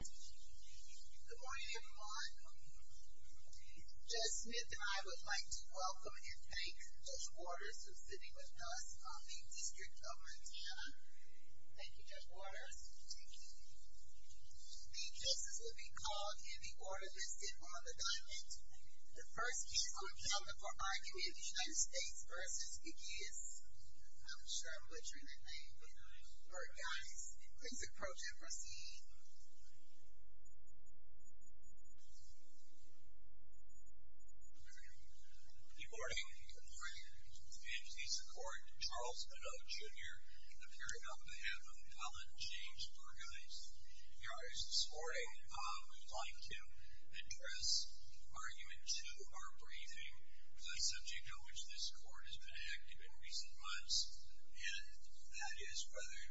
Good morning everyone, Judge Smith and I would like to welcome and thank Judge Waters for sitting with us on the District of Montana. Thank you Judge Waters. Thank you. These cases will be called in the order listed on the diamond. The first case will be on the court bargain in the United States versus Pegasus. I'm sure I'm butchering the name. All right guys, please approach and proceed. Good morning. Good morning. Good morning. I'm here to support Charles Edow, Jr. and I'm here on behalf of Collin James Burgis. Guys, this morning we'd like to address argument two of our briefing. It's a subject on which this court has been active in recent months and that is whether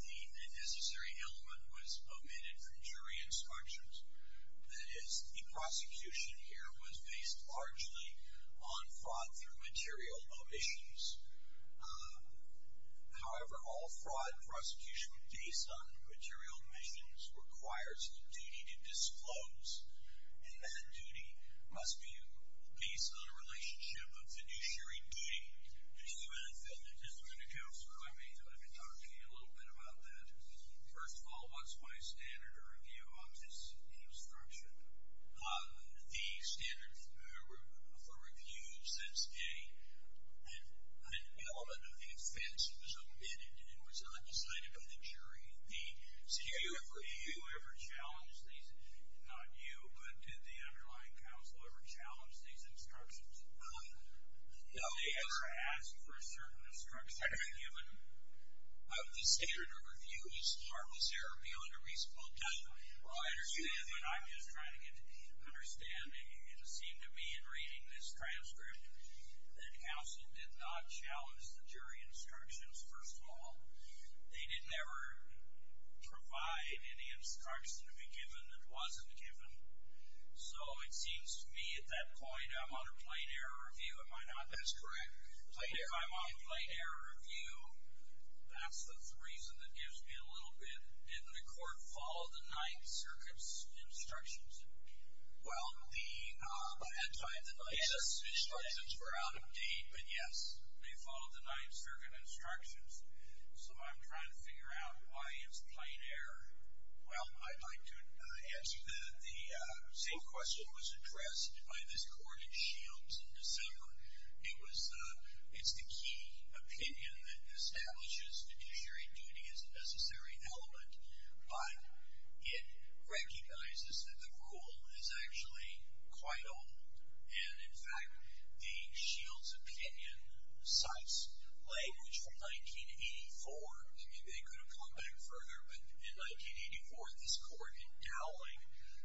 the necessary element was omitted from jury instructions. That is, the prosecution here was based largely on fraud through material omissions. However, all fraud prosecution based on material omissions requires the duty to disclose and that duty must be based on a relationship of fiduciary duty. Mr. Manifield, the District Attorney Counselor, I may have been talking to you a little bit about that. First of all, what's my standard of review of this instruction? The standard for review says an element of the offense was omitted and was undecided by the jury. Do you ever challenge these? Not you, but did the underlying counsel ever challenge these instructions? No. Did they ever ask for a certain instruction? I don't know. The standard of review is harmful therapy under reasonable judgment. Well, I understand. I'm just trying to understand. It seemed to me in reading this transcript that counsel did not challenge the jury instructions. First of all, they did never provide any instruction to be given that wasn't given. So it seems to me at that point I'm on a plain error review. Am I not? That's correct. If I'm on a plain error review, that's the reason that gives me a little bit. Didn't the court follow the Ninth Circuit's instructions? Well, at the time, the Ninth Circuit's instructions were out of date, but yes. They followed the Ninth Circuit instructions. So I'm trying to figure out why it's a plain error. Well, I'd like to ask that the same question was addressed by this court in Shields in December. It's the key opinion that establishes judiciary duty as a necessary element, but it recognizes that the rule is actually quite old. And, in fact, a Shields opinion cites language from 1984. Maybe they could have gone back further, but in 1984 this court in Dowling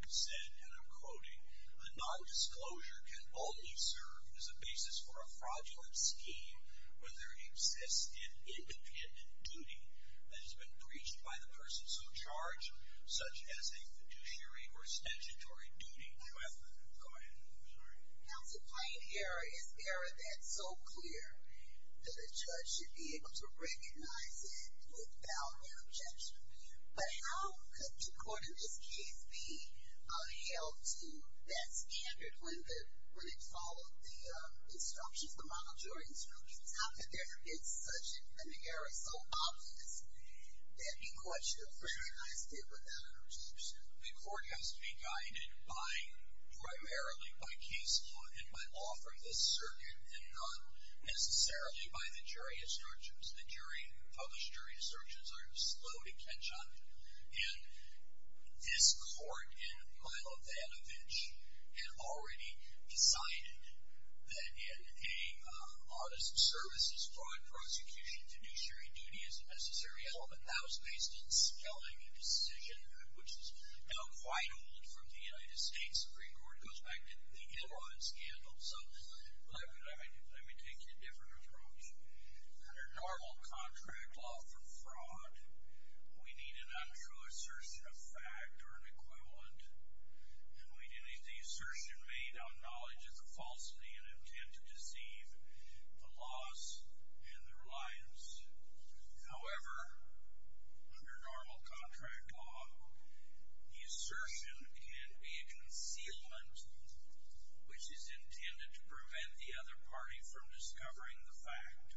said, and I'm quoting, a nondisclosure can only serve as a basis for a fraudulent scheme when there exists an independent duty that has been breached by the person so charged, such as a fiduciary or statutory duty. Go ahead. I'm sorry. Now, the plain error is error that's so clear that a judge should be able to recognize it without an objection. But how could the court in this case be held to that standard when it followed the instructions, the monitoring instructions? It's not that there is such an independent error. It's so obvious that a judge should recognize it without an objection. The court has to be guided primarily by case law and by law for this circuit and not necessarily by the jury instructions. The published jury instructions are slow to catch on. And this court in Milo Vanovich had already decided that an autism services fraud prosecution fiduciary duty is a necessary element. That was based in spelling a decision, which is now quite old from the United States Supreme Court. It goes back to the Ilrod scandal. So let me take you a different approach. Under normal contract law for fraud, we need an untrue assertion of fact or an equivalent, and we need the assertion made on knowledge of the falsity and intent to deceive, the loss, and the reliance. However, under normal contract law, the assertion can be a concealment, which is intended to prevent the other party from discovering the fact.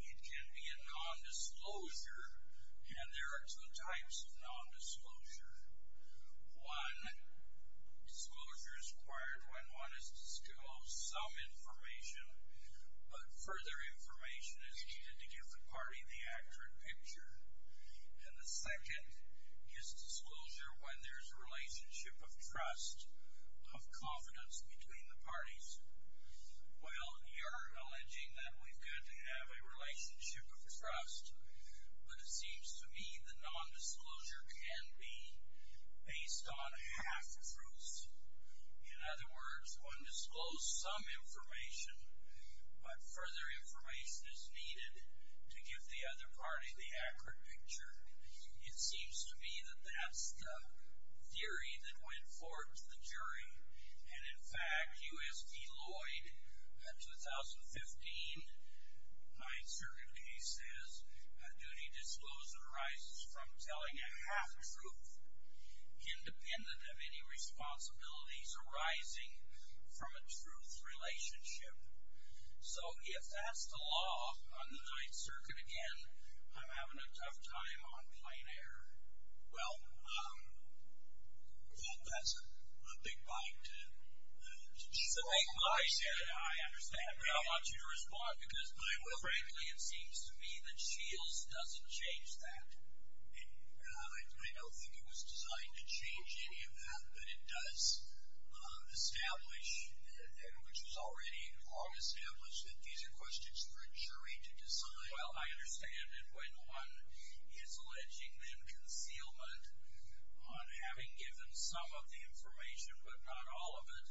It can be a nondisclosure, and there are two types of nondisclosure. One, disclosure is required when one has disclosed some information, but further information is needed to give the party the accurate picture. And the second is disclosure when there's a relationship of trust, of confidence between the parties. Well, you're alleging that we've got to have a relationship of trust, but it seems to me the nondisclosure can be based on half-truths. In other words, one disclosed some information, but further information is needed to give the other party the accurate picture. It seems to me that that's the theory that went forward to the jury, and in fact, U.S. v. Lloyd, 2015, 9th Circuit case says, a duty disclosure arises from telling a half-truth, independent of any responsibilities arising from a truth relationship. So if that's the law on the 9th Circuit again, I'm having a tough time on plain air. Well, that's a big bite to chew on. I said it, I understand. I want you to respond, because frankly it seems to me that Shields doesn't change that. I don't think it was designed to change any of that, but it does establish, and which was already long established, that these are questions for a jury to decide. Well, I understand, and when one is alleging then concealment, on having given some of the information but not all of it,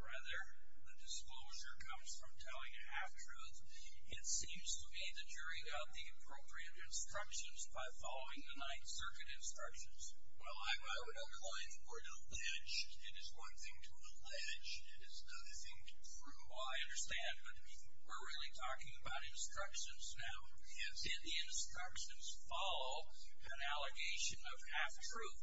rather the disclosure comes from telling a half-truth, it seems to me the jury got the appropriate instructions by following the 9th Circuit instructions. Well, I would imply for it to allege. It is one thing to allege. It is another thing to prove. Well, I understand, but we're really talking about instructions now. Yes. Did the instructions follow an allegation of half-truth?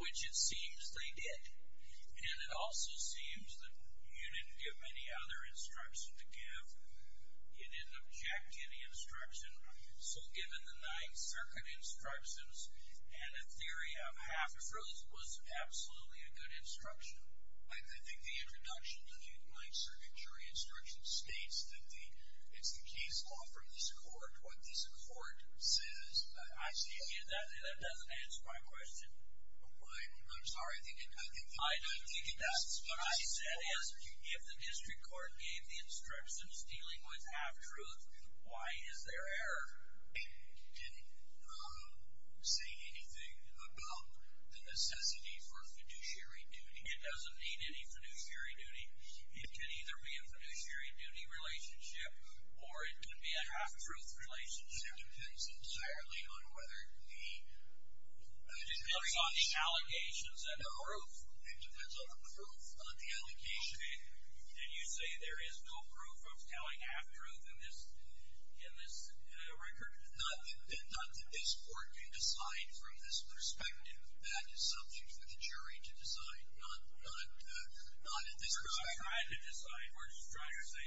Which it seems they did. And it also seems that you didn't give any other instruction to give. You didn't object to any instruction. So given the 9th Circuit instructions and a theory of half-truth was absolutely a good instruction. I think the introduction to the 9th Circuit jury instructions states that it's the case law from this court what this court says. I see that. That doesn't answer my question. I'm sorry. I didn't think it does. What I said is if the district court gave the instructions dealing with half-truth, why is there error? Did it say anything about the necessity for fiduciary duty? It doesn't need any fiduciary duty. It can either be a fiduciary duty relationship or it could be a half-truth relationship. It depends entirely on whether the jury has any proof. It depends on the proof of the allegation. Did you say there is no proof of telling half-truth in this record? Not that this court can decide from this perspective. That is something for the jury to decide, not at this perspective. We're trying to decide. We're just trying to say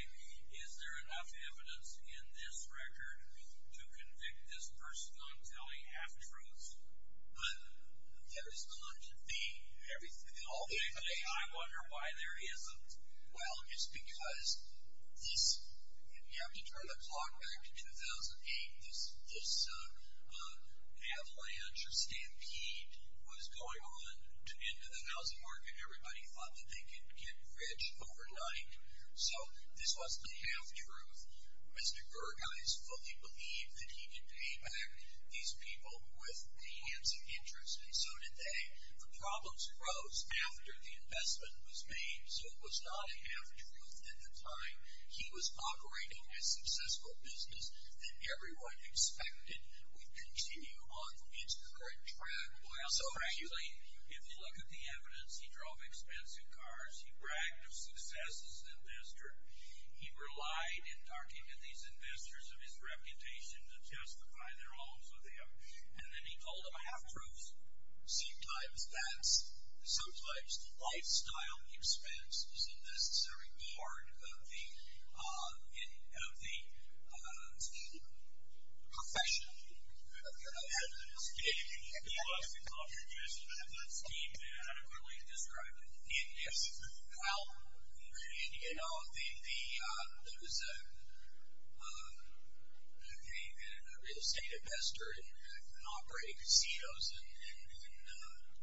is there enough evidence in this record to convict this person on telling half-truths? But there's not to be. Ultimately, I wonder why there isn't. Well, it's because you have to turn the clock back to 2008. This avalanche or stampede was going on into the housing market. Everybody thought that they could get rich overnight, so this was a half-truth. Mr. Gergeis fully believed that he could pay back these people with the hands of interest, and so did they. The problems arose after the investment was made, so it was not a half-truth at the time. He was operating a successful business that everyone expected would continue on its current track. So, frankly, if you look at the evidence, he drove expensive cars. He bragged of success as an investor. He relied in talking to these investors of his reputation to testify in their homes with him. And then he told them a half-truth. Sometimes that's a lifestyle expense. It's a necessary part of the profession. Okay. I'll add to this. He was an investor. He adequately described it. Yes. How? You know, there was a real estate investor and he was operating casinos in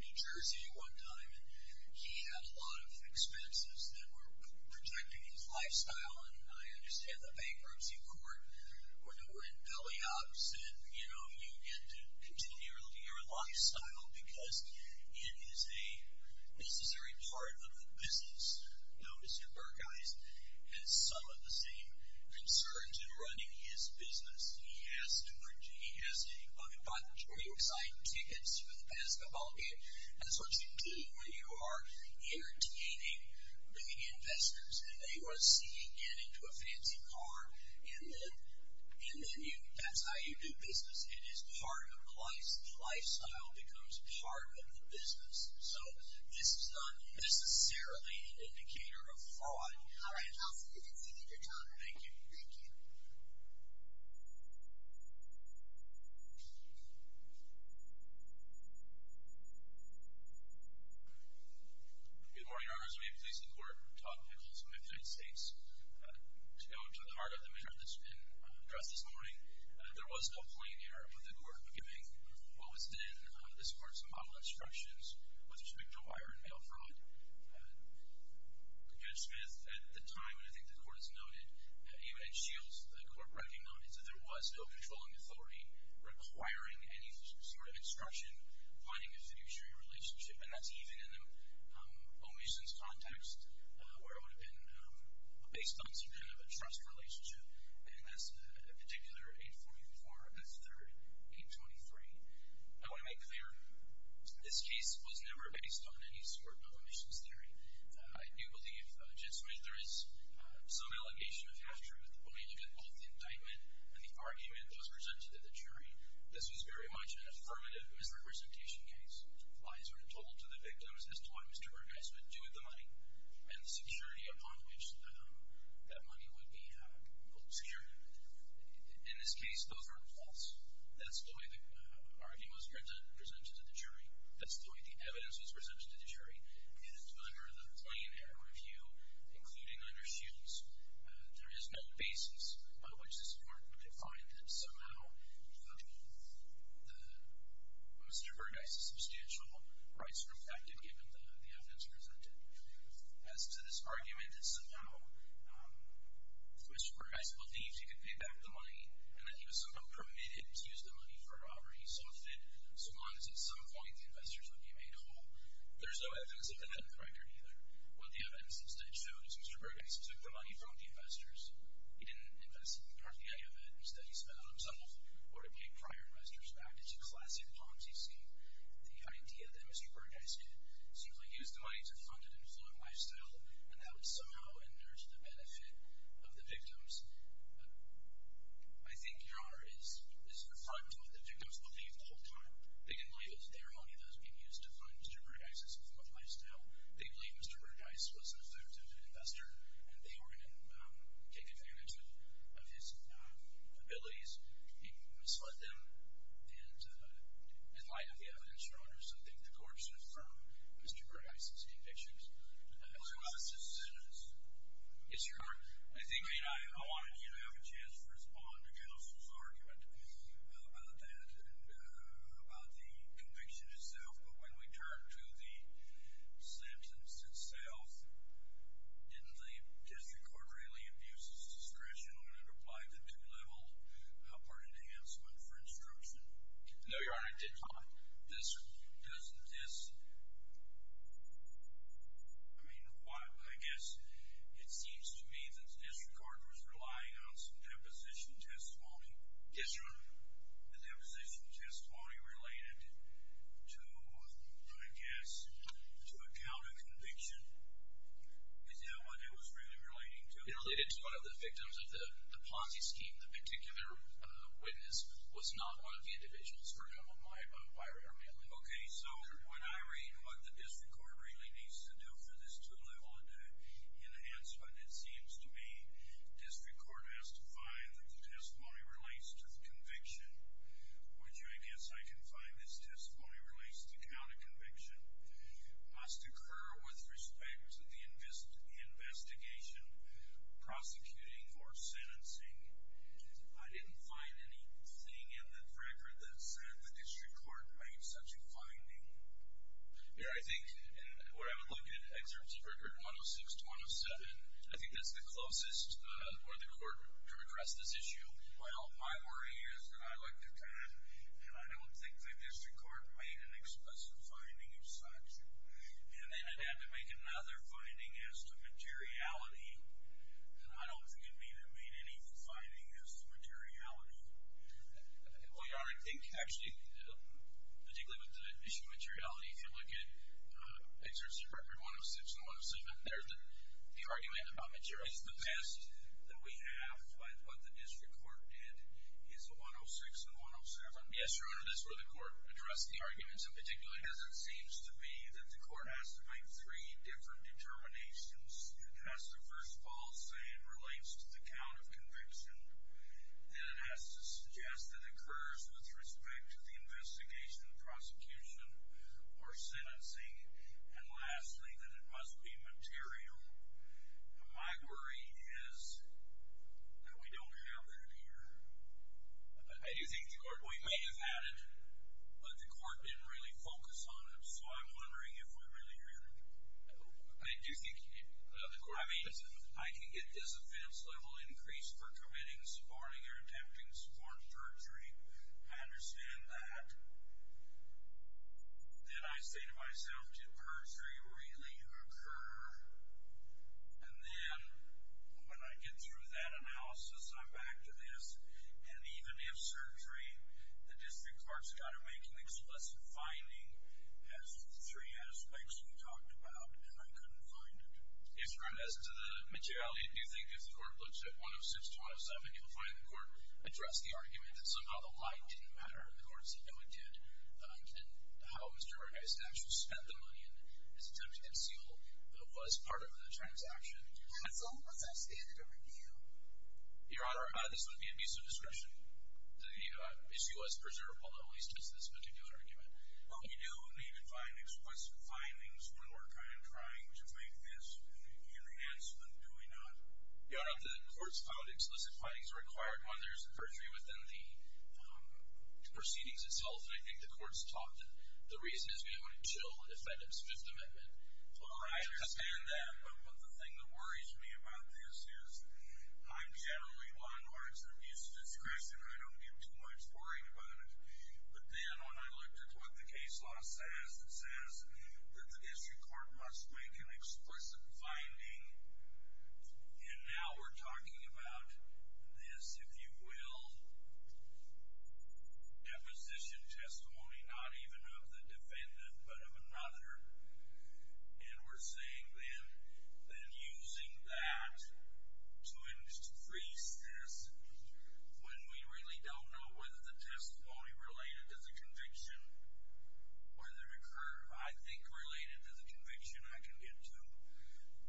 New Jersey at one time, and he had a lot of expenses that were projecting his lifestyle. And I understand the bankruptcy court, when we're in belly-ups, and, you know, you get to continually look at your lifestyle because it is a necessary part of the business. Now, Mr. Gergeis has some of the same concerns in running his business. He has to work. He has to go out and buy the Toyota Excite tickets for the basketball game. That's what you do when you are entertaining the investors. They want to see you get into a fancy car, and then that's how you do business. It is part of the life. The lifestyle becomes part of the business. So this is not necessarily an indicator of fraud. All right. I'll forgive you for your time. Thank you. Thank you. Good morning, Your Honors. May it please the Court. Todd Pickles of Memphis, Texas. To go to the heart of the matter that's been addressed this morning, there was no plea in the error of the court giving what was then the support of some model obstructions with respect to wire and mail fraud. Judge Smith, at the time, and I think the Court has noted, even in Shields, the Court recognized that there was no controlling authority requiring any sort of obstruction. And that's even in the omissions context, where it would have been based on some kind of a trust relationship, and that's a particular 844. That's the 823. I want to make clear, this case was never based on any sort of omissions theory. I do believe, Judge Smith, there is some allegation of half-truth, but we look at both the indictment and the argument that was presented to the jury. This was very much an affirmative misrepresentation case. Lies were told to the victims as to what Mr. Bergeis would do with the money and the security upon which that money would be secured. In this case, those were false. That's the way the argument was presented to the jury. That's the way the evidence was presented to the jury. And under the plain error review, including under Shields, there is no basis by which the support could find that somehow Mr. Bergeis' substantial rights were affected, given the evidence presented. As to this argument that somehow Mr. Bergeis believed he could pay back the money and that he was somehow permitted to use the money for a robbery, he saw that it swung, and at some point the investors would be made whole, there's no evidence of that in the record either. What the evidence instead shows is Mr. Bergeis took the money from the investors. He didn't invest hardly any of it. Instead, he spent it on himself or to pay prior investors back. It's a classic Ponzi scheme. The idea that Mr. Bergeis could simply use the money to fund an influent lifestyle and that would somehow endure to the benefit of the victims, I think, Your Honor, is refuged to what the victims believed the whole time. They didn't believe it was their money that was being used to fund Mr. Bergeis' influent lifestyle. They believed Mr. Bergeis was an affirmative investor and they were going to take advantage of his abilities. He misled them, and in light of the evidence, Your Honor, so I think the court should affirm Mr. Bergeis' convictions. I believe I was just sentenced. Yes, Your Honor. I think I wanted to have a chance to respond to Counsel's argument about that and about the conviction itself, but when we turn to the sentence itself, didn't the district court really abuse its discretion when it applied the two-level upward enhancement for instruction? No, Your Honor, it did not. Doesn't this, I mean, I guess it seems to me that the district court Yes, Your Honor. the deposition testimony related to, I guess, to a count of conviction? Is that what it was really relating to? It related to one of the victims of the Ponzi scheme. The particular witness was not one of the individuals. I'm sorry, Your Honor, my error may have been. Okay, so when I read what the district court really needs to do for this two-level enhancement, it seems to me that the testimony relates to the conviction, which I guess I can find this testimony relates to count of conviction, must occur with respect to the investigation, prosecuting, or sentencing. I didn't find anything in the record that said the district court made such a finding. Your Honor, I think what I would look at, excerpts of record 106 to 107, I think that's the closest for the court to address this issue. Well, my worry is that I looked at that, and I don't think the district court made an explicit finding of such. And then it had to make another finding as to materiality, and I don't think it made any finding as to materiality. Well, Your Honor, I think actually, particularly with the issue of materiality, if you look at excerpts of record 106 and 107, the argument about materiality is the best that we have by what the district court did is the 106 and 107. Yes, Your Honor, that's where the court addressed the arguments in particular. Because it seems to me that the court has to make three different determinations. It has to first of all say it relates to the count of conviction. Then it has to suggest that it occurs with respect to the investigation, prosecution, or sentencing. And lastly, that it must be material. My worry is that we don't have that here. I do think the court may have had it, but the court didn't really focus on it. So I'm wondering if we really heard it. I do think you did. I mean, I can get this offense level increased for committing sparring or attempting sparring perjury. I understand that. Then I say to myself, did perjury really occur? And then when I get through that analysis, I'm back to this. And even if surgery, the district court's got to make an explicit finding as to the three aspects we talked about. And I couldn't find it. Yes, Your Honor, as to the materiality, do you think if the court looks at 106, 107, you'll find the court addressed the argument that somehow the lie didn't matter? And the court said, no, it did. And how Mr. Rodriguez actually spent the money, as attempted to conceal, was part of the transaction. And so what's that standard over here? Your Honor, this would be a piece of description. The issue was preserved, although he's touched this particular argument. Well, we do need to find explicit findings when we're kind of trying to make this an enhancement, do we not? Your Honor, the court's found explicit findings are required when there's a perjury within the proceedings itself. And I think the court's taught that the reason is we want to chill if that is Fifth Amendment law. I understand that. But the thing that worries me about this is I'm generally one who has an abuse of discretion. I don't get too much worrying about it. But then when I looked at what the case law says, it says that the district court must make an explicit finding. And now we're talking about this, if you will, deposition testimony not even of the defendant but of another. And we're saying then that using that to increase this, when we really don't know whether the testimony related to the conviction or the recurve, I think, related to the conviction, I can get to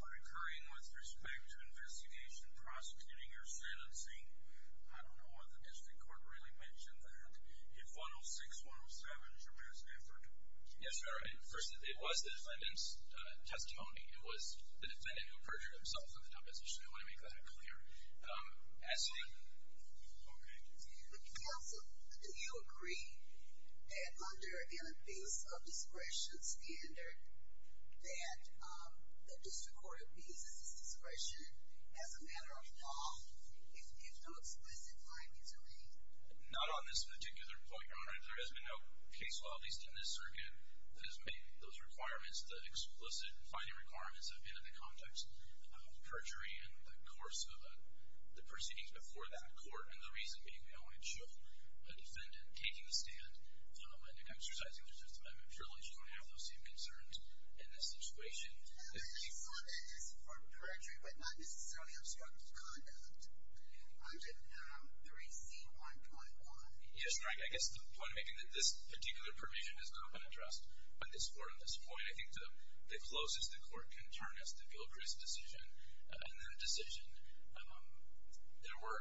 recurring with respect to investigation, prosecuting, or sentencing. I don't know whether the district court really mentioned that. If 106, 107 is your best effort. Yes, Your Honor. First, it was the defendant's testimony. It was the defendant who perjured himself in the deposition. I want to make that clear. Absolutely. Okay. Counsel, do you agree that under an abuse of discretion standard, that the district court abuses discretion as a matter of law if no explicit finding is made? Not on this particular point, Your Honor. There has been no case law, at least in this circuit, that has made those requirements, the explicit finding requirements have been in the context of perjury in the course of the proceedings before that court. And the reason being, no one should a defendant taking a stand and exercising their testimony surely shouldn't have those same concerns in this situation. I saw that as perjury, but not necessarily obstructive conduct under 3C1.1. Yes, Frank, I guess the point I'm making is that this particular permission has not been addressed by this court at this point. I think the closest the court can turn is the Gilchrist decision. In that decision, there were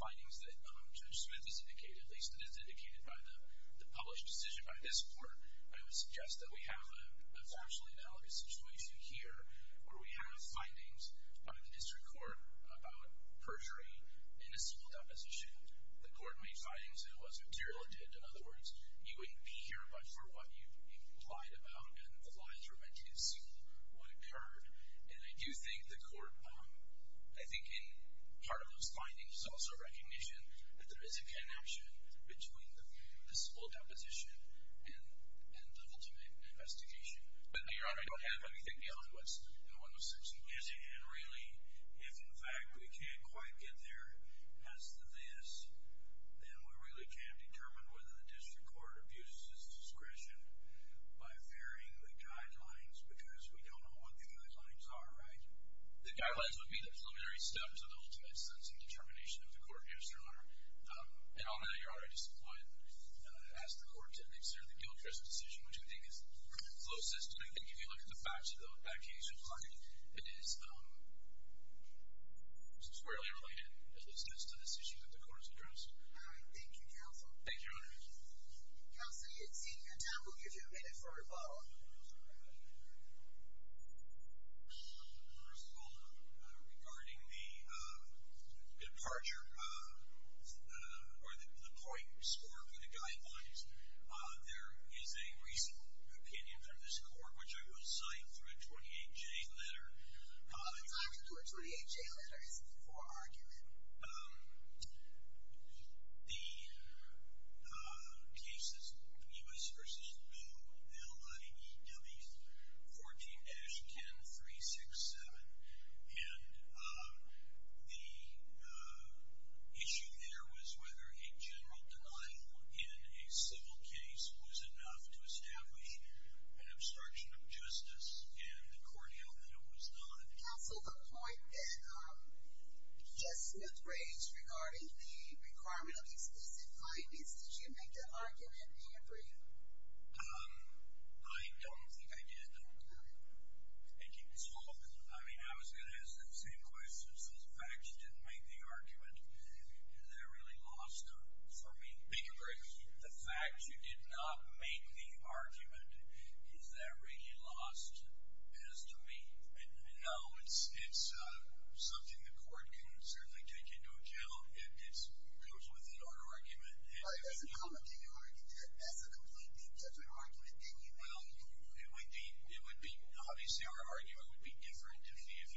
findings that Judge Smith has indicated, at least it is indicated by the published decision by this court. I would suggest that we have a factually valid situation here where we have findings by the district court about perjury and it's held up as a shield. The court made findings that was material to it. In other words, you wouldn't be here for what you implied about and the lies were meant to conceal what occurred. And I do think the court, I think in part of those findings, is also a recognition that there is a connection between the full deposition and the ultimate investigation. But, Your Honor, I don't have anything to do with what's in 106. And really, if in fact we can't quite get there as to this, then we really can't determine whether the district court abuses its discretion by varying the guidelines because we don't know what the guidelines are, right? The guidelines would be the preliminary steps in terms of the ultimate sense and determination of the court. Yes, Your Honor. And I know you're already disappointed. As the court techniques are, the Gilchrist decision, which I think is closest to, I think, if you look at the facts of that case, it is squarely related, at least, to this issue that the court has addressed. Thank you, counsel. Thank you, Your Honor. Counsel, you're exceeding your time. We'll give you a minute for a rebuttal. First of all, regarding the departure or the point score for the guidelines, there is a reasonable opinion from this court, which I will cite through a 28-J letter. The time to do a 28-J letter is before argument. The case is Pneus v. Bowe, L-I-E-W 14-10-367. And the issue there was whether a general denial in a civil case was enough to establish an obstruction of justice, and the court held that it was not. Counsel, the point that Judge Smith raised regarding the requirement of explicit findings, did you make that argument? I agree. I don't think I did. Thank you. Ms. Hawkins. I mean, I was going to ask that same question. Since the fact you didn't make the argument, is that really lost for me? I agree. The fact you did not make the argument, is that really lost as to me? No. It's something the court can certainly take into account. It goes with it, our argument. Well, it doesn't come into your argument. That's a completely different argument than you made. It would be, obviously, our argument would be different if he had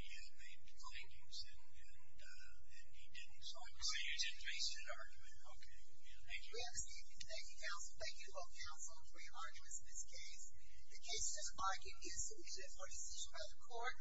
made the findings and he didn't. So I'm saying you didn't make an argument. Okay. Thank you. Thank you, Counsel. Thank you both, Counsel, for your arguments in this case. The case does not get insubstituted for a decision by the court.